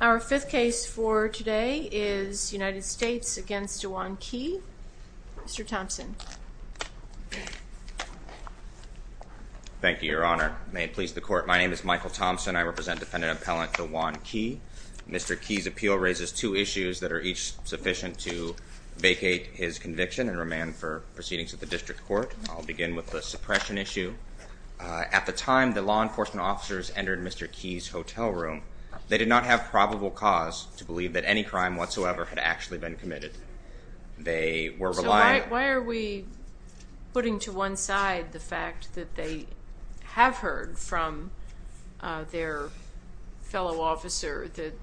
Our fifth case for today is United States v. DaJuan Key. Mr. Thompson. Thank you, Your Honor. May it please the Court. My name is Michael Thompson. I represent Defendant Appellant DaJuan Key. Mr. Key's appeal raises two issues that are each sufficient to vacate his conviction and remand for proceedings at the District Court. I'll begin with the time the law enforcement officers entered Mr. Key's hotel room, they did not have probable cause to believe that any crime whatsoever had actually been committed. They were reliant on... So why are we putting to one side the fact that they have heard from their fellow officer that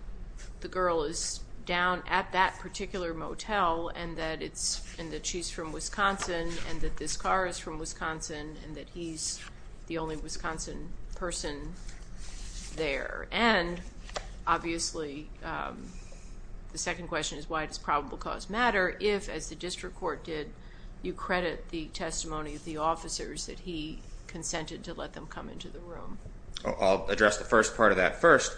the girl is down at that particular motel and that she's from Wisconsin and that this the only Wisconsin person there? And, obviously, the second question is why does probable cause matter if, as the District Court did, you credit the testimony of the officers that he consented to let them come into the room? I'll address the first part of that first.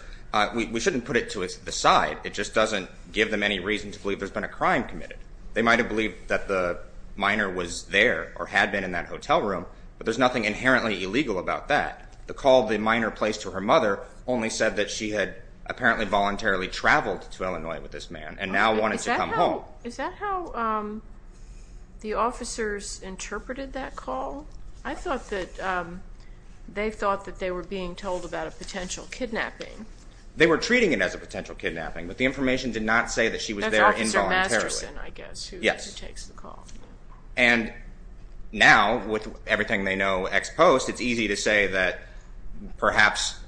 We shouldn't put it to the side. It just doesn't give them any reason to believe there's been a crime committed. They might have believed that the minor was there or had been in that hotel room, but there's nothing inherently illegal about that. The call of the minor placed to her mother only said that she had apparently voluntarily traveled to Illinois with this man and now wanted to come home. Is that how the officers interpreted that call? I thought that they thought that they were being told about a potential kidnapping. They were treating it as a potential kidnapping, but the information did not say that she was there involuntarily. And now, with everything they know ex post, it's easy to say that perhaps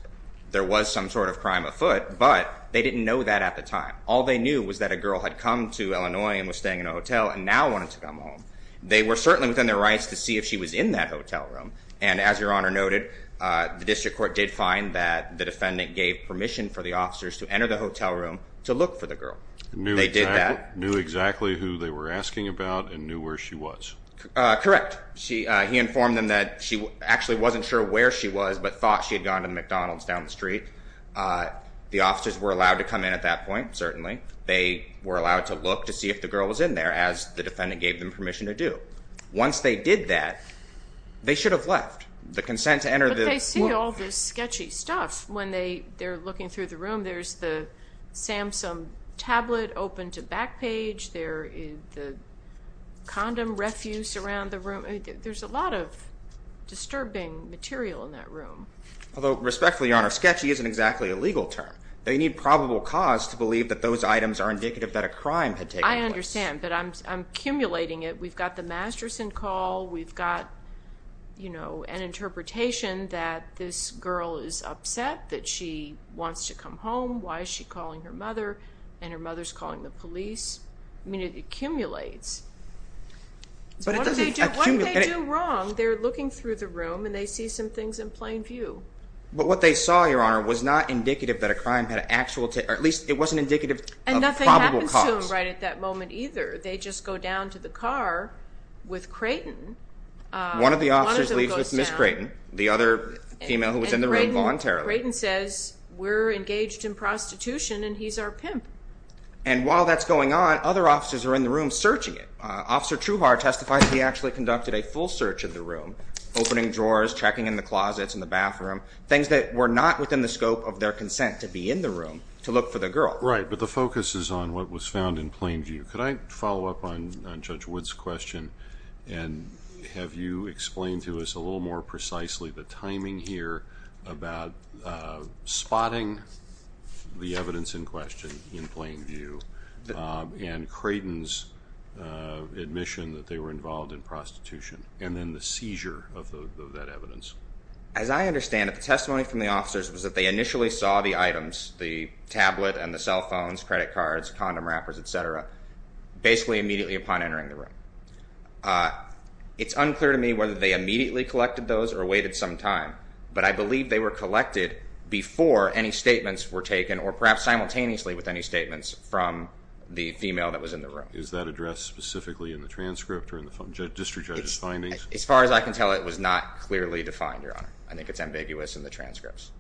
there was some sort of crime afoot, but they didn't know that at the time. All they knew was that a girl had come to Illinois and was staying in a hotel and now wanted to come home. They were certainly within their rights to see if she was in that hotel room. And, as Your Honor noted, the District Court did find that the defendant gave permission for the officers to enter the hotel room to look for the girl. They did that. Knew exactly who they were asking about and knew where she was. Correct. He informed them that she actually wasn't sure where she was, but thought she had gone to the McDonald's down the street. The officers were allowed to come in at that point, certainly. They were allowed to look to see if the girl was in there, as the defendant gave them permission to do. Once they did that, they should have left. The consent to enter the... They see all this sketchy stuff when they're looking through the room. There's the Samsung tablet open to back page. There is the condom refuse around the room. There's a lot of disturbing material in that room. Although, respectfully, Your Honor, sketchy isn't exactly a legal term. They need probable cause to believe that those items are indicative that a crime had taken place. I understand, but I'm accumulating it. We've got the Masterson call. We've got, you know, an interpretation that this girl is upset that she wants to come home. Why is she calling her mother? And her mother's calling the police. I mean, it accumulates. But it doesn't accumulate. What did they do wrong? They're looking through the room and they see some things in plain view. But what they saw, Your Honor, was not indicative that a crime had actual... Or at least, it wasn't indicative of probable cause. And nothing happens to them right at that moment either. They just go down to the car with Creighton. One of the officers leaves with Ms. Creighton, the other female who was in the room voluntarily. And Creighton says, we're engaged in prostitution and he's our pimp. And while that's going on, other officers are in the room searching it. Officer Trueheart testified that he actually conducted a full search of the room, opening drawers, checking in the closets, in the bathroom, things that were not within the scope of their consent to be in the room to look for the girl. Right, but the focus is on what was found in plain view. Could I follow up on Judge you explain to us a little more precisely the timing here about spotting the evidence in question in plain view and Creighton's admission that they were involved in prostitution and then the seizure of that evidence? As I understand it, the testimony from the officers was that they initially saw the items, the tablet and the cell phones, credit cards, condom wrappers, et cetera, basically immediately upon entering the room. It's unclear to me whether they immediately collected those or waited some time, but I believe they were collected before any statements were taken or perhaps simultaneously with any statements from the female that was in the room. Is that addressed specifically in the transcript or in the district judge's findings? As far as I can tell, it was not clearly defined, Your Honor. I think it's ambiguous in the transcripts.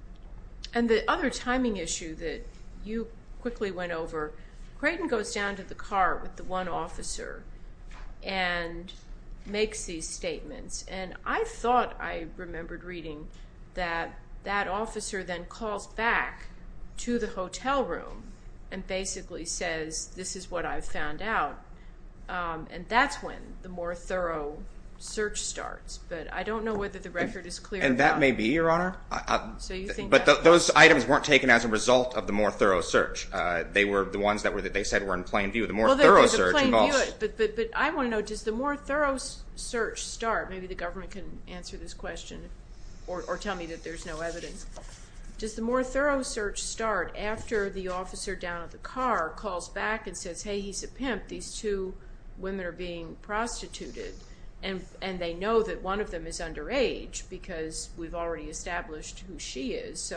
And the other timing issue that you quickly went over, Creighton goes down to the car with the one officer and makes these statements. And I thought I remembered reading that that officer then calls back to the hotel room and basically says, this is what I've found out. And that's when the more thorough search starts. But I don't know whether the record is clear. And that may be, Your Honor. But those items weren't taken as a result of the more thorough search. They were the more thorough search. But I want to know, does the more thorough search start, maybe the government can answer this question or tell me that there's no evidence. Does the more thorough search start after the officer down at the car calls back and says, hey, he's a pimp. These two women are being prostituted. And they know that one of them is underage because we've already established who she is.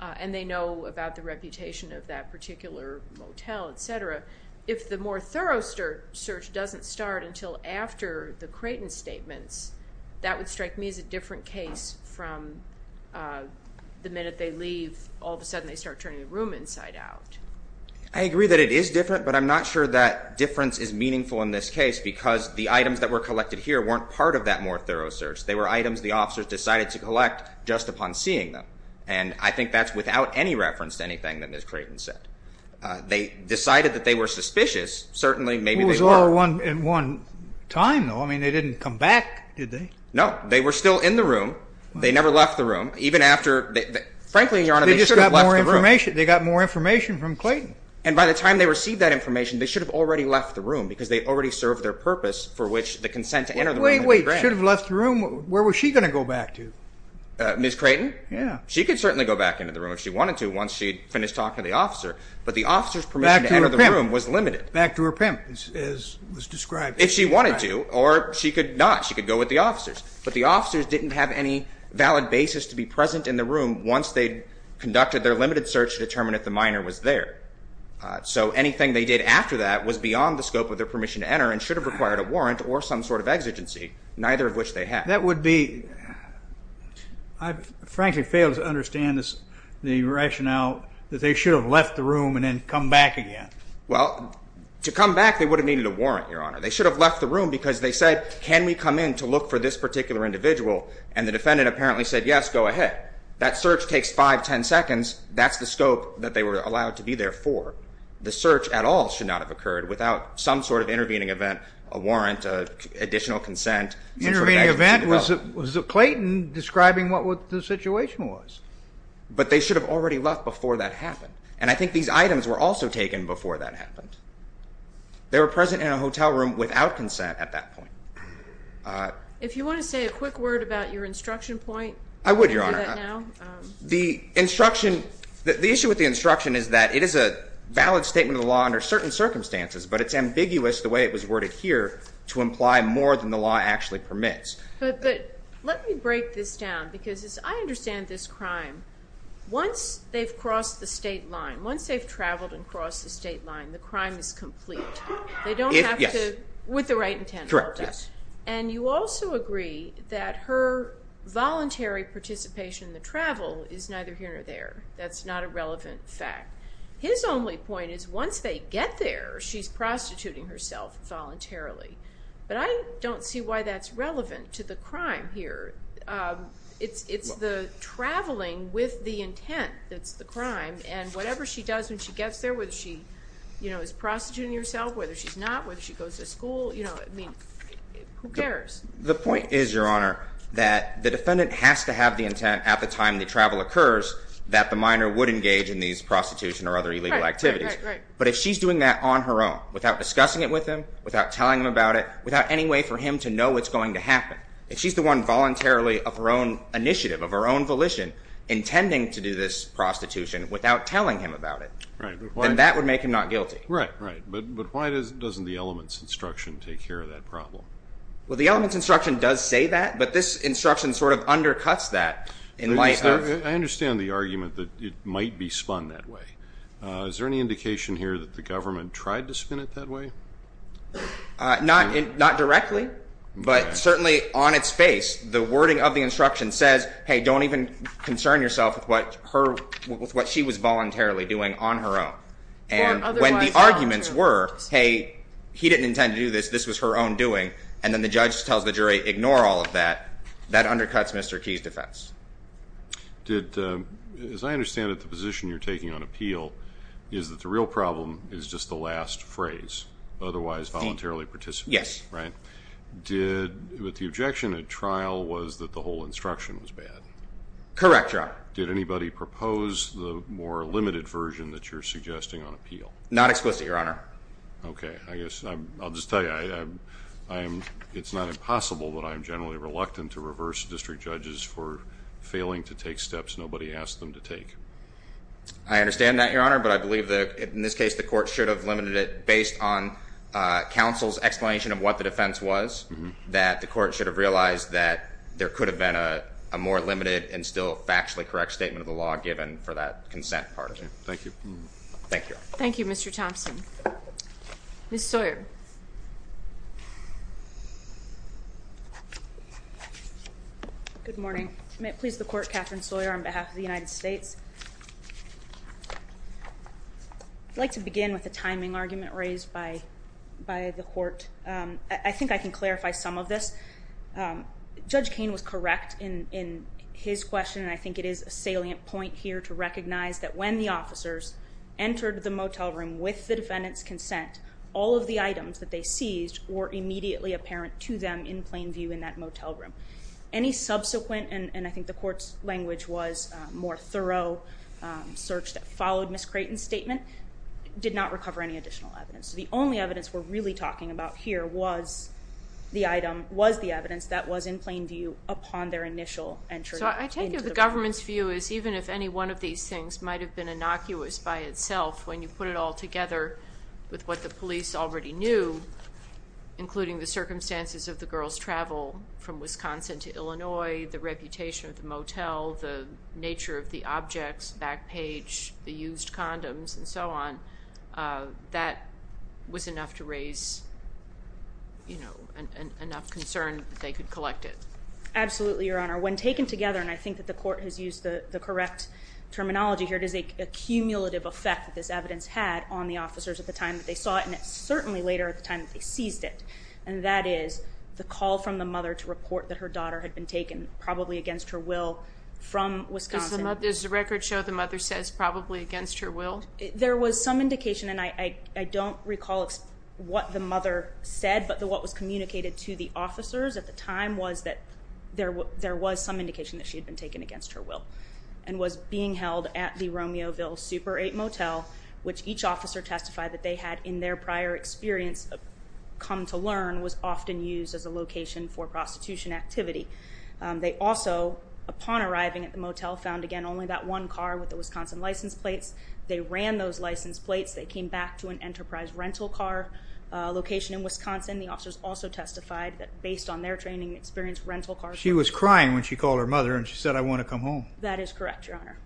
And they know about the reputation of that particular motel, etc. If the more thorough search doesn't start until after the Creighton statements, that would strike me as a different case from the minute they leave, all of a sudden they start turning the room inside out. I agree that it is different, but I'm not sure that difference is meaningful in this case because the items that were collected here weren't part of that more thorough search. They were items the officers decided to collect just upon seeing them. And I think that's without any reference to anything that Ms. Creighton said. They decided that they were suspicious. Certainly, maybe they were. Well, it was all at one time, though. I mean, they didn't come back, did they? No. They were still in the room. They never left the room. Even after, frankly, Your Honor, they should have left the room. They just got more information. They got more information from Creighton. And by the time they received that information, they should have already left the room because they already served their purpose for which the consent to enter the room had been granted. Wait, wait. Should have left the room? Where was she going to go back to? Ms. Creighton? Yeah. She could certainly go back into the room if she wanted to once she had finished talking to the officer, but the officer's permission to enter the room was limited. Back to her pimp, as was described. If she wanted to, or she could not. She could go with the officers. But the officers didn't have any valid basis to be present in the room once they conducted their limited search to determine if the minor was there. So anything they did after that was beyond the scope of their permission to enter and should have required a warrant or some sort of exigency, neither of which they had. That would be, I frankly fail to understand the rationale that they should have left the room and then come back again. Well, to come back, they would have needed a warrant, Your Honor. They should have left the room because they said, can we come in to look for this particular individual? And the defendant apparently said, yes, go ahead. That search takes five, ten seconds. That's the scope that they were allowed to be there for. The search at all should not have occurred without some sort of intervening event, a warrant, additional consent. Intervening event? Was Clayton describing what the situation was? But they should have already left before that happened. And I think these items were also taken before that happened. They were present in a hotel room without consent at that point. If you want to say a quick word about your instruction point, I can do that now. I would, Your Honor. The instruction, the issue with the instruction is that it is a valid statement of the law under certain circumstances, but it's ambiguous the way it was worded here to imply more than the law actually permits. But let me break this down because as I understand this crime, once they've crossed the state line, once they've traveled and crossed the state line, the crime is complete. They don't have to, with the right intent, correct? Yes. And you also agree that her voluntary participation in the travel is neither here nor there. That's not a relevant fact. His only point is once they get there, she's prostituting herself voluntarily. But I don't see why that's relevant to the crime here. It's the traveling with the intent that's the crime. And whatever she does when she gets there, whether she is prostituting herself, whether she's not, whether she goes to school, who cares? The point is, Your Honor, that the defendant has to have the intent at the time the travel occurs that the minor would engage in these prostitution or other illegal activities. But if she's doing that on her own, without discussing it with him, without telling him about it, without any way for him to know what's going to happen, if she's the one voluntarily of her own initiative, of her own volition, intending to do this prostitution without telling him about it, then that would make him not guilty. Right, right. But why doesn't the elements instruction take care of that problem? Well, the elements instruction does say that, but this instruction sort of undercuts that in light of- I understand the argument that it might be spun that way. Is there any indication here that the government tried to spin it that way? Not directly, but certainly on its face, the wording of the instruction says, hey, don't even concern yourself with what she was voluntarily doing on her own. And when the arguments were, hey, he didn't intend to do this, this was her own doing, and then the judge tells the Did, as I understand it, the position you're taking on appeal is that the real problem is just the last phrase, otherwise voluntarily participate. Yes. Right? Did, with the objection at trial was that the whole instruction was bad? Correct, Your Honor. Did anybody propose the more limited version that you're suggesting on appeal? Not explicitly, Your Honor. Okay. I guess I'll just tell you, it's not impossible, but I'm generally reluctant to take steps nobody asked them to take. I understand that, Your Honor, but I believe that in this case the court should have limited it based on counsel's explanation of what the defense was, that the court should have realized that there could have been a more limited and still factually correct statement of the law given for that consent part of it. Thank you. Thank you. Thank you, Mr. Thompson. Ms. Sawyer. Good morning. May it please the court, Katherine Sawyer on behalf of the United States. I'd like to begin with a timing argument raised by the court. I think I can clarify some of this. Judge Koehn was correct in his question, and I think it is a salient point here to recognize that when the officers entered the motel room with the defendant's consent, all of the items that they seized were immediately apparent to them in plain view in that motel room. Any subsequent, and I think the court's language was more thorough search that followed Ms. Creighton's statement, did not recover any additional evidence. The only evidence we're really talking about here was the item, was the evidence that was in plain view upon their initial entry into the room. So I take it the government's view is even if any one of these things might have been already knew, including the circumstances of the girl's travel from Wisconsin to Illinois, the reputation of the motel, the nature of the objects, back page, the used condoms and so on, that was enough to raise, you know, enough concern that they could collect it. Absolutely, Your Honor. When taken together, and I think that the court has used the correct terminology here, it is a cumulative effect that this evidence had on the officers at the time that they saw it, and it's certainly later at the time that they seized it, and that is the call from the mother to report that her daughter had been taken, probably against her will, from Wisconsin. Does the record show the mother says probably against her will? There was some indication, and I don't recall what the mother said, but what was communicated to the officers at the time was that there was some indication that she had been taken against her will, and was being held at the Romeoville Super 8 Motel, which each officer testified that they had, in their prior experience, come to learn was often used as a location for prostitution activity. They also, upon arriving at the motel, found again only that one car with the Wisconsin license plates. They ran those license plates. They came back to an Enterprise rental car location in Wisconsin. The officers also testified that, based on their training and experience, rental cars were used. She was crying when she called her mother and she said, I want to come home. That is correct, Your Honor.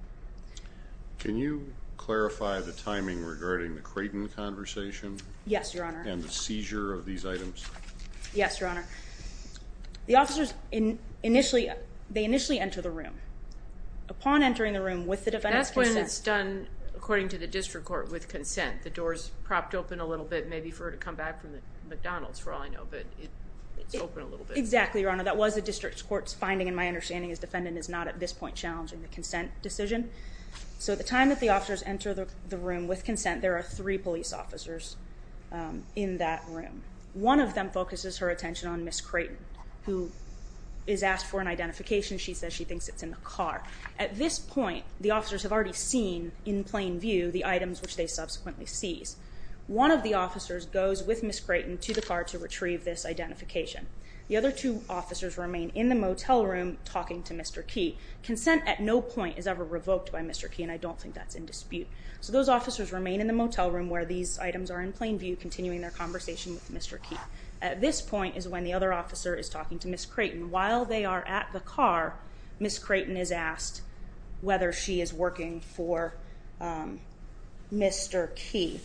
Can you clarify the timing regarding the Creighton conversation? Yes, Your Honor. And the seizure of these items? Yes, Your Honor. The officers initially enter the room. Upon entering the room with the defendant's consent. That's when it's done, according to the district court, with consent. The door's propped open a little bit, maybe for her to come back from the McDonald's, for all I know, but it's open a little bit. Exactly, Your Honor. That was the district court's finding, and my understanding is the defendant is not, at this point, challenging the consent decision. So at the time that the officers enter the room with consent, there are three police officers in that room. One of them focuses her attention on Ms. Creighton, who is asked for an identification. She says she thinks it's in the car. At this point, the officers have already seen, in plain view, the items which they subsequently seized. One of the officers goes with Ms. Creighton to the car to retrieve this identification. The other two officers remain in the motel room talking to Mr. Key. Consent at no point is ever revoked by Mr. Key, and I don't think that's in dispute. So those officers remain in the motel room where these items are in plain view, continuing their conversation with Mr. Key. At this point is when the other officer is talking to Ms. Creighton. While they are at the car, Ms. Creighton is asked whether she is working for Mr. Key.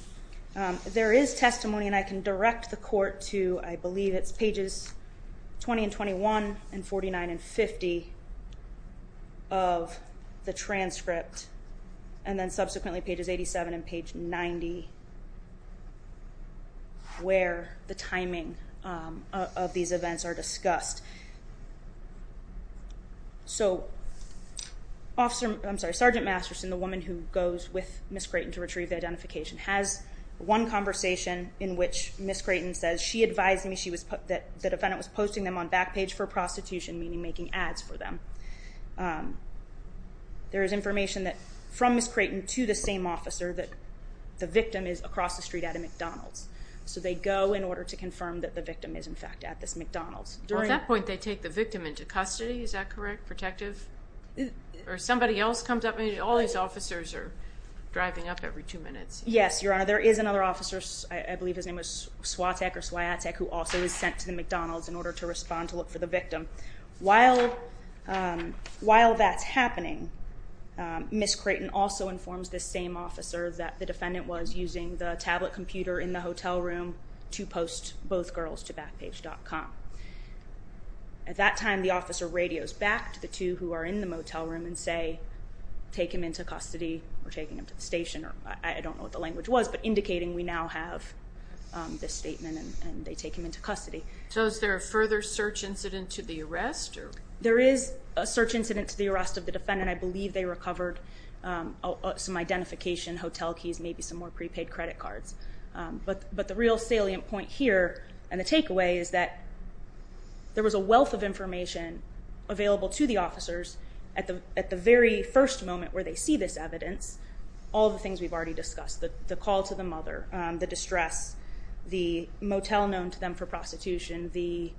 There is testimony, and I can direct the court to, I believe it's pages 20 and 21 and 49 and 50 of the transcript, and then subsequently pages 87 and page 90, where the timing of these events are discussed. So Sergeant Masterson, the woman who goes with Ms. Creighton to retrieve the identification, has one conversation in which Ms. Creighton says, she advised me that the defendant was posting them on Backpage for Prostitution, meaning making ads for them. There is information from Ms. Creighton to the same officer that the victim is across the street at a McDonald's. So they go in order to confirm that the victim is, in fact, at this McDonald's. At that point they take the victim into custody, is that correct? Protective? Or somebody else comes up and all these officers are driving up every two minutes. Yes, Your Honor, there is another officer, I believe his name was Swiatek or Swiatek, who also was sent to the McDonald's in order to respond to look for the victim. While that's happening, Ms. Creighton also informs the same officer that the defendant was using the tablet computer in the hotel room to post both girls to Backpage.com. At that time the officer radios back to the two who are in the motel room and say, take him into custody, or take him to the station. I don't know what the language was, but indicating we now have this statement and they take him into custody. So is there a further search incident to the arrest? There is a search incident to the arrest of the defendant. I believe they recovered some identification, hotel keys, maybe some more prepaid credit cards. But the real salient point here and the takeaway is that there was a wealth of information available to the officers at the very first moment where they see this evidence, all the things we've already discussed. The call to the mother, the distress, the motel known to them for prostitution, the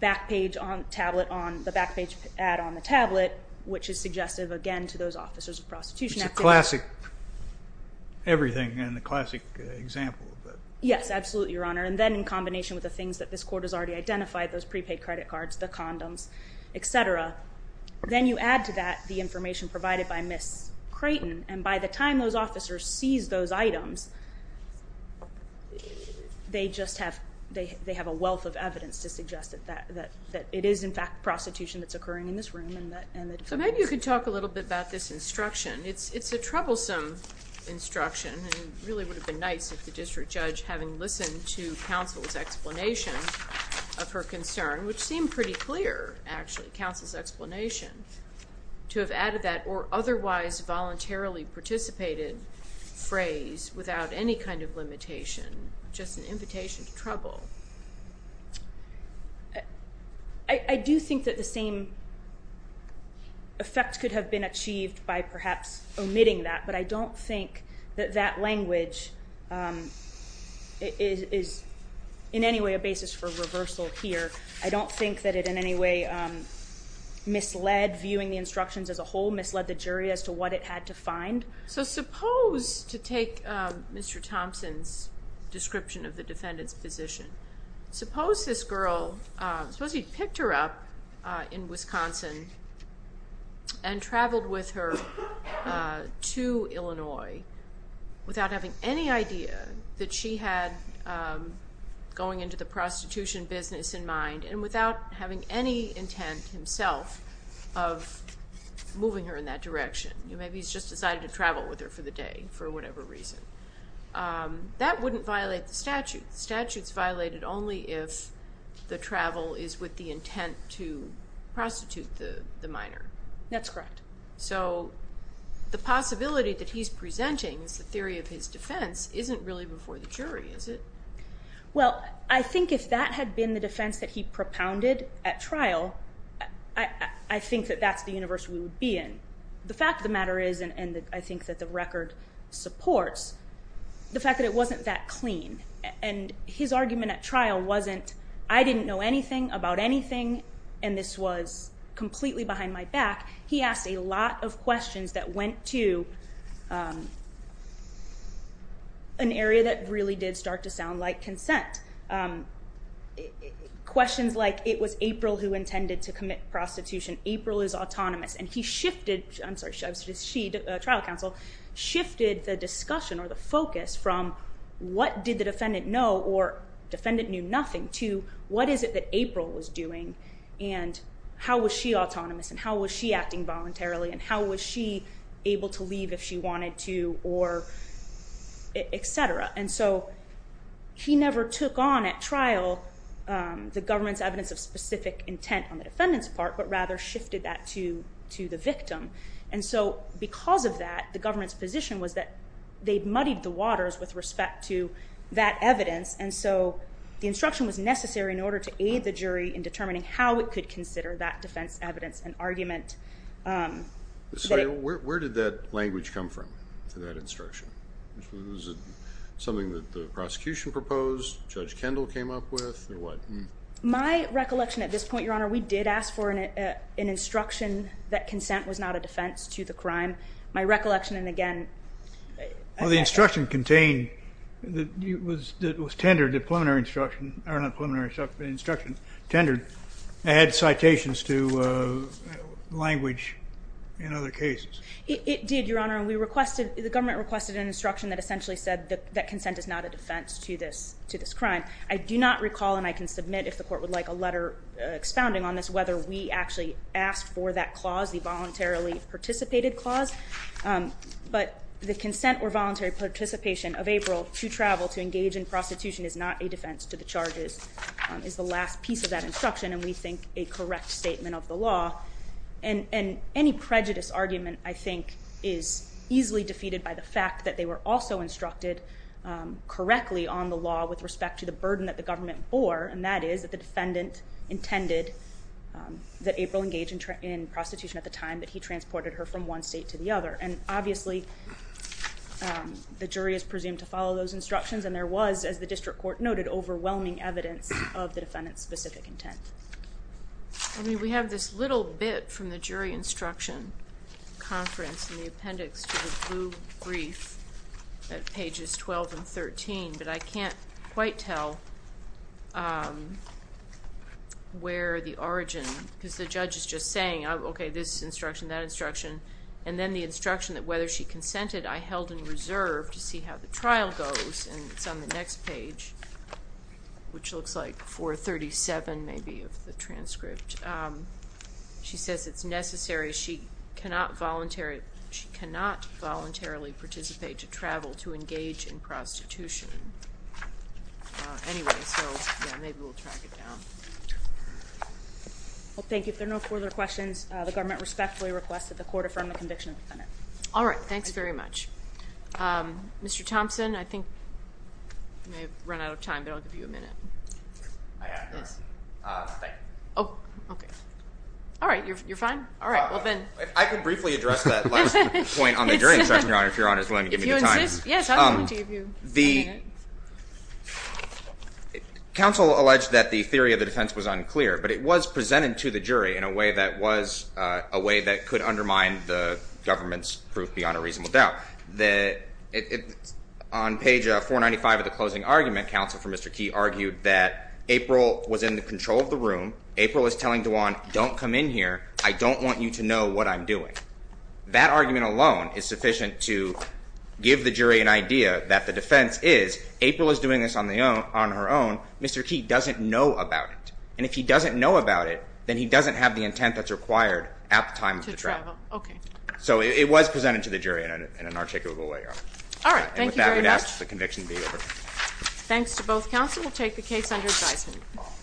back page add on the tablet, which is suggestive again to those officers of prostitution. It's a classic everything and a classic example of it. Yes, absolutely, Your Honor. And then in combination with the things that this court has already identified, those prepaid credit cards, the condoms, et cetera. Then you add to that the information provided by Ms. Creighton. And by the time those officers seize those items, they just have a wealth of evidence to suggest that it is in fact prostitution that's occurring in this room. So maybe you could talk a little bit about this instruction. It's a troublesome instruction. It really would have been nice if the district judge, having listened to counsel's explanation of her concern, which seemed pretty clear actually, counsel's explanation, to have added that or otherwise voluntarily participated phrase without any kind of limitation, just an invitation to trouble. I do think that the same effect could have been achieved by perhaps omitting that, but I don't think that that language is in any way a basis for reversal here. I don't think that it in any way misled viewing the instructions as a whole, misled the jury as to what it had to find. So suppose, to take Mr. Thompson's description of the defendant's position, suppose this girl, suppose he picked her up in Wisconsin and traveled with her to Illinois without having any idea that she had going into the prostitution business in mind and without having any intent himself of moving her in that direction. Maybe he's just decided to travel with her for the day for whatever reason. That wouldn't violate the statute. The statute's violated only if the travel is with the intent to prostitute the minor. That's correct. So the possibility that he's presenting is the theory of his defense isn't really before the jury, is it? Well, I think if that had been the defense that he propounded at trial, I think that that's the universe we would be in. The fact of the matter is, and I think that the record supports, the fact that it wasn't that clean, and his argument at trial wasn't, I didn't know anything about anything and this was completely behind my back. He asked a lot of questions that went to an area that really did start to sound like consent, questions like it was April who intended to commit prostitution, April is autonomous, and he shifted, I'm sorry, she, trial counsel, shifted the discussion or the focus from what did the defendant know or defendant knew nothing to what is it that April was doing and how was she autonomous and how was she acting voluntarily and how was she able to leave if she wanted to or et cetera. And so he never took on at trial the government's evidence of specific intent on the defendant's part, but rather shifted that to the victim. And so because of that, the government's position was that they'd muddied the waters with respect to that evidence, and so the instruction was necessary in order to aid the jury in determining how it could consider that defense evidence and argument. So where did that language come from for that instruction? Was it something that the prosecution proposed, Judge Kendall came up with, or what? My recollection at this point, Your Honor, we did ask for an instruction that consent was not a defense to the crime. My recollection, and again. Well, the instruction contained that it was tendered, the preliminary instruction, or not preliminary instruction, tendered. It had citations to language in other cases. It did, Your Honor, and we requested, the government requested an instruction that essentially said that consent is not a defense to this crime. I do not recall, and I can submit if the court would like a letter expounding on this, whether we actually asked for that clause, the voluntarily participated clause. But the consent or voluntary participation of April to travel to engage in prostitution is not a defense to the charges, is the last piece of that instruction, and we think a correct statement of the law. And any prejudice argument, I think, is easily defeated by the fact that they were also instructed correctly on the law with respect to the burden that the government bore, and that is that the defendant intended that April engage in prostitution at the time that he transported her from one state to the other. And obviously, the jury is presumed to follow those instructions, and there was, as the district court noted, overwhelming evidence of the defendant's specific intent. We have this little bit from the jury instruction conference in the appendix to the blue brief at pages 12 and 13, but I can't quite tell where the origin, because the judge is just saying, okay, this instruction, that instruction, and then the instruction that whether she consented, I held in reserve to see how the trial goes, and it's on the next page, which looks like 437 maybe of the transcript. She says it's necessary. She cannot voluntarily participate to travel to engage in prostitution. Anyway, so maybe we'll track it down. Well, thank you. If there are no further questions, the government respectfully requests that the court affirm the conviction of the defendant. All right. Thanks very much. Mr. Thompson, I think you may have run out of time, but I'll give you a minute. I have, yes. Thank you. Oh, okay. All right, you're fine? All right, well then. If I could briefly address that last point on the jury instruction, Your Honor, if Your Honor is willing to give me the time. If you insist. Yes, I'm willing to give you a minute. The counsel alleged that the theory of the defense was unclear, but it was presented to the jury in a way that was a way that could undermine the government's proof beyond a reasonable doubt. On page 495 of the closing argument, counsel for Mr. Key argued that April was in the control of the room. April was telling DeJuan, don't come in here. I don't want you to know what I'm doing. That argument alone is sufficient to give the jury an idea that the defense is April is doing this on her own. Mr. Key doesn't know about it, and if he doesn't know about it, then he doesn't have the intent that's required at the time of the trial. To travel, okay. So it was presented to the jury in an articulable way, Your Honor. All right. And with that, I would ask the conviction be over. Thanks to both counsel. We'll take the case under advisement.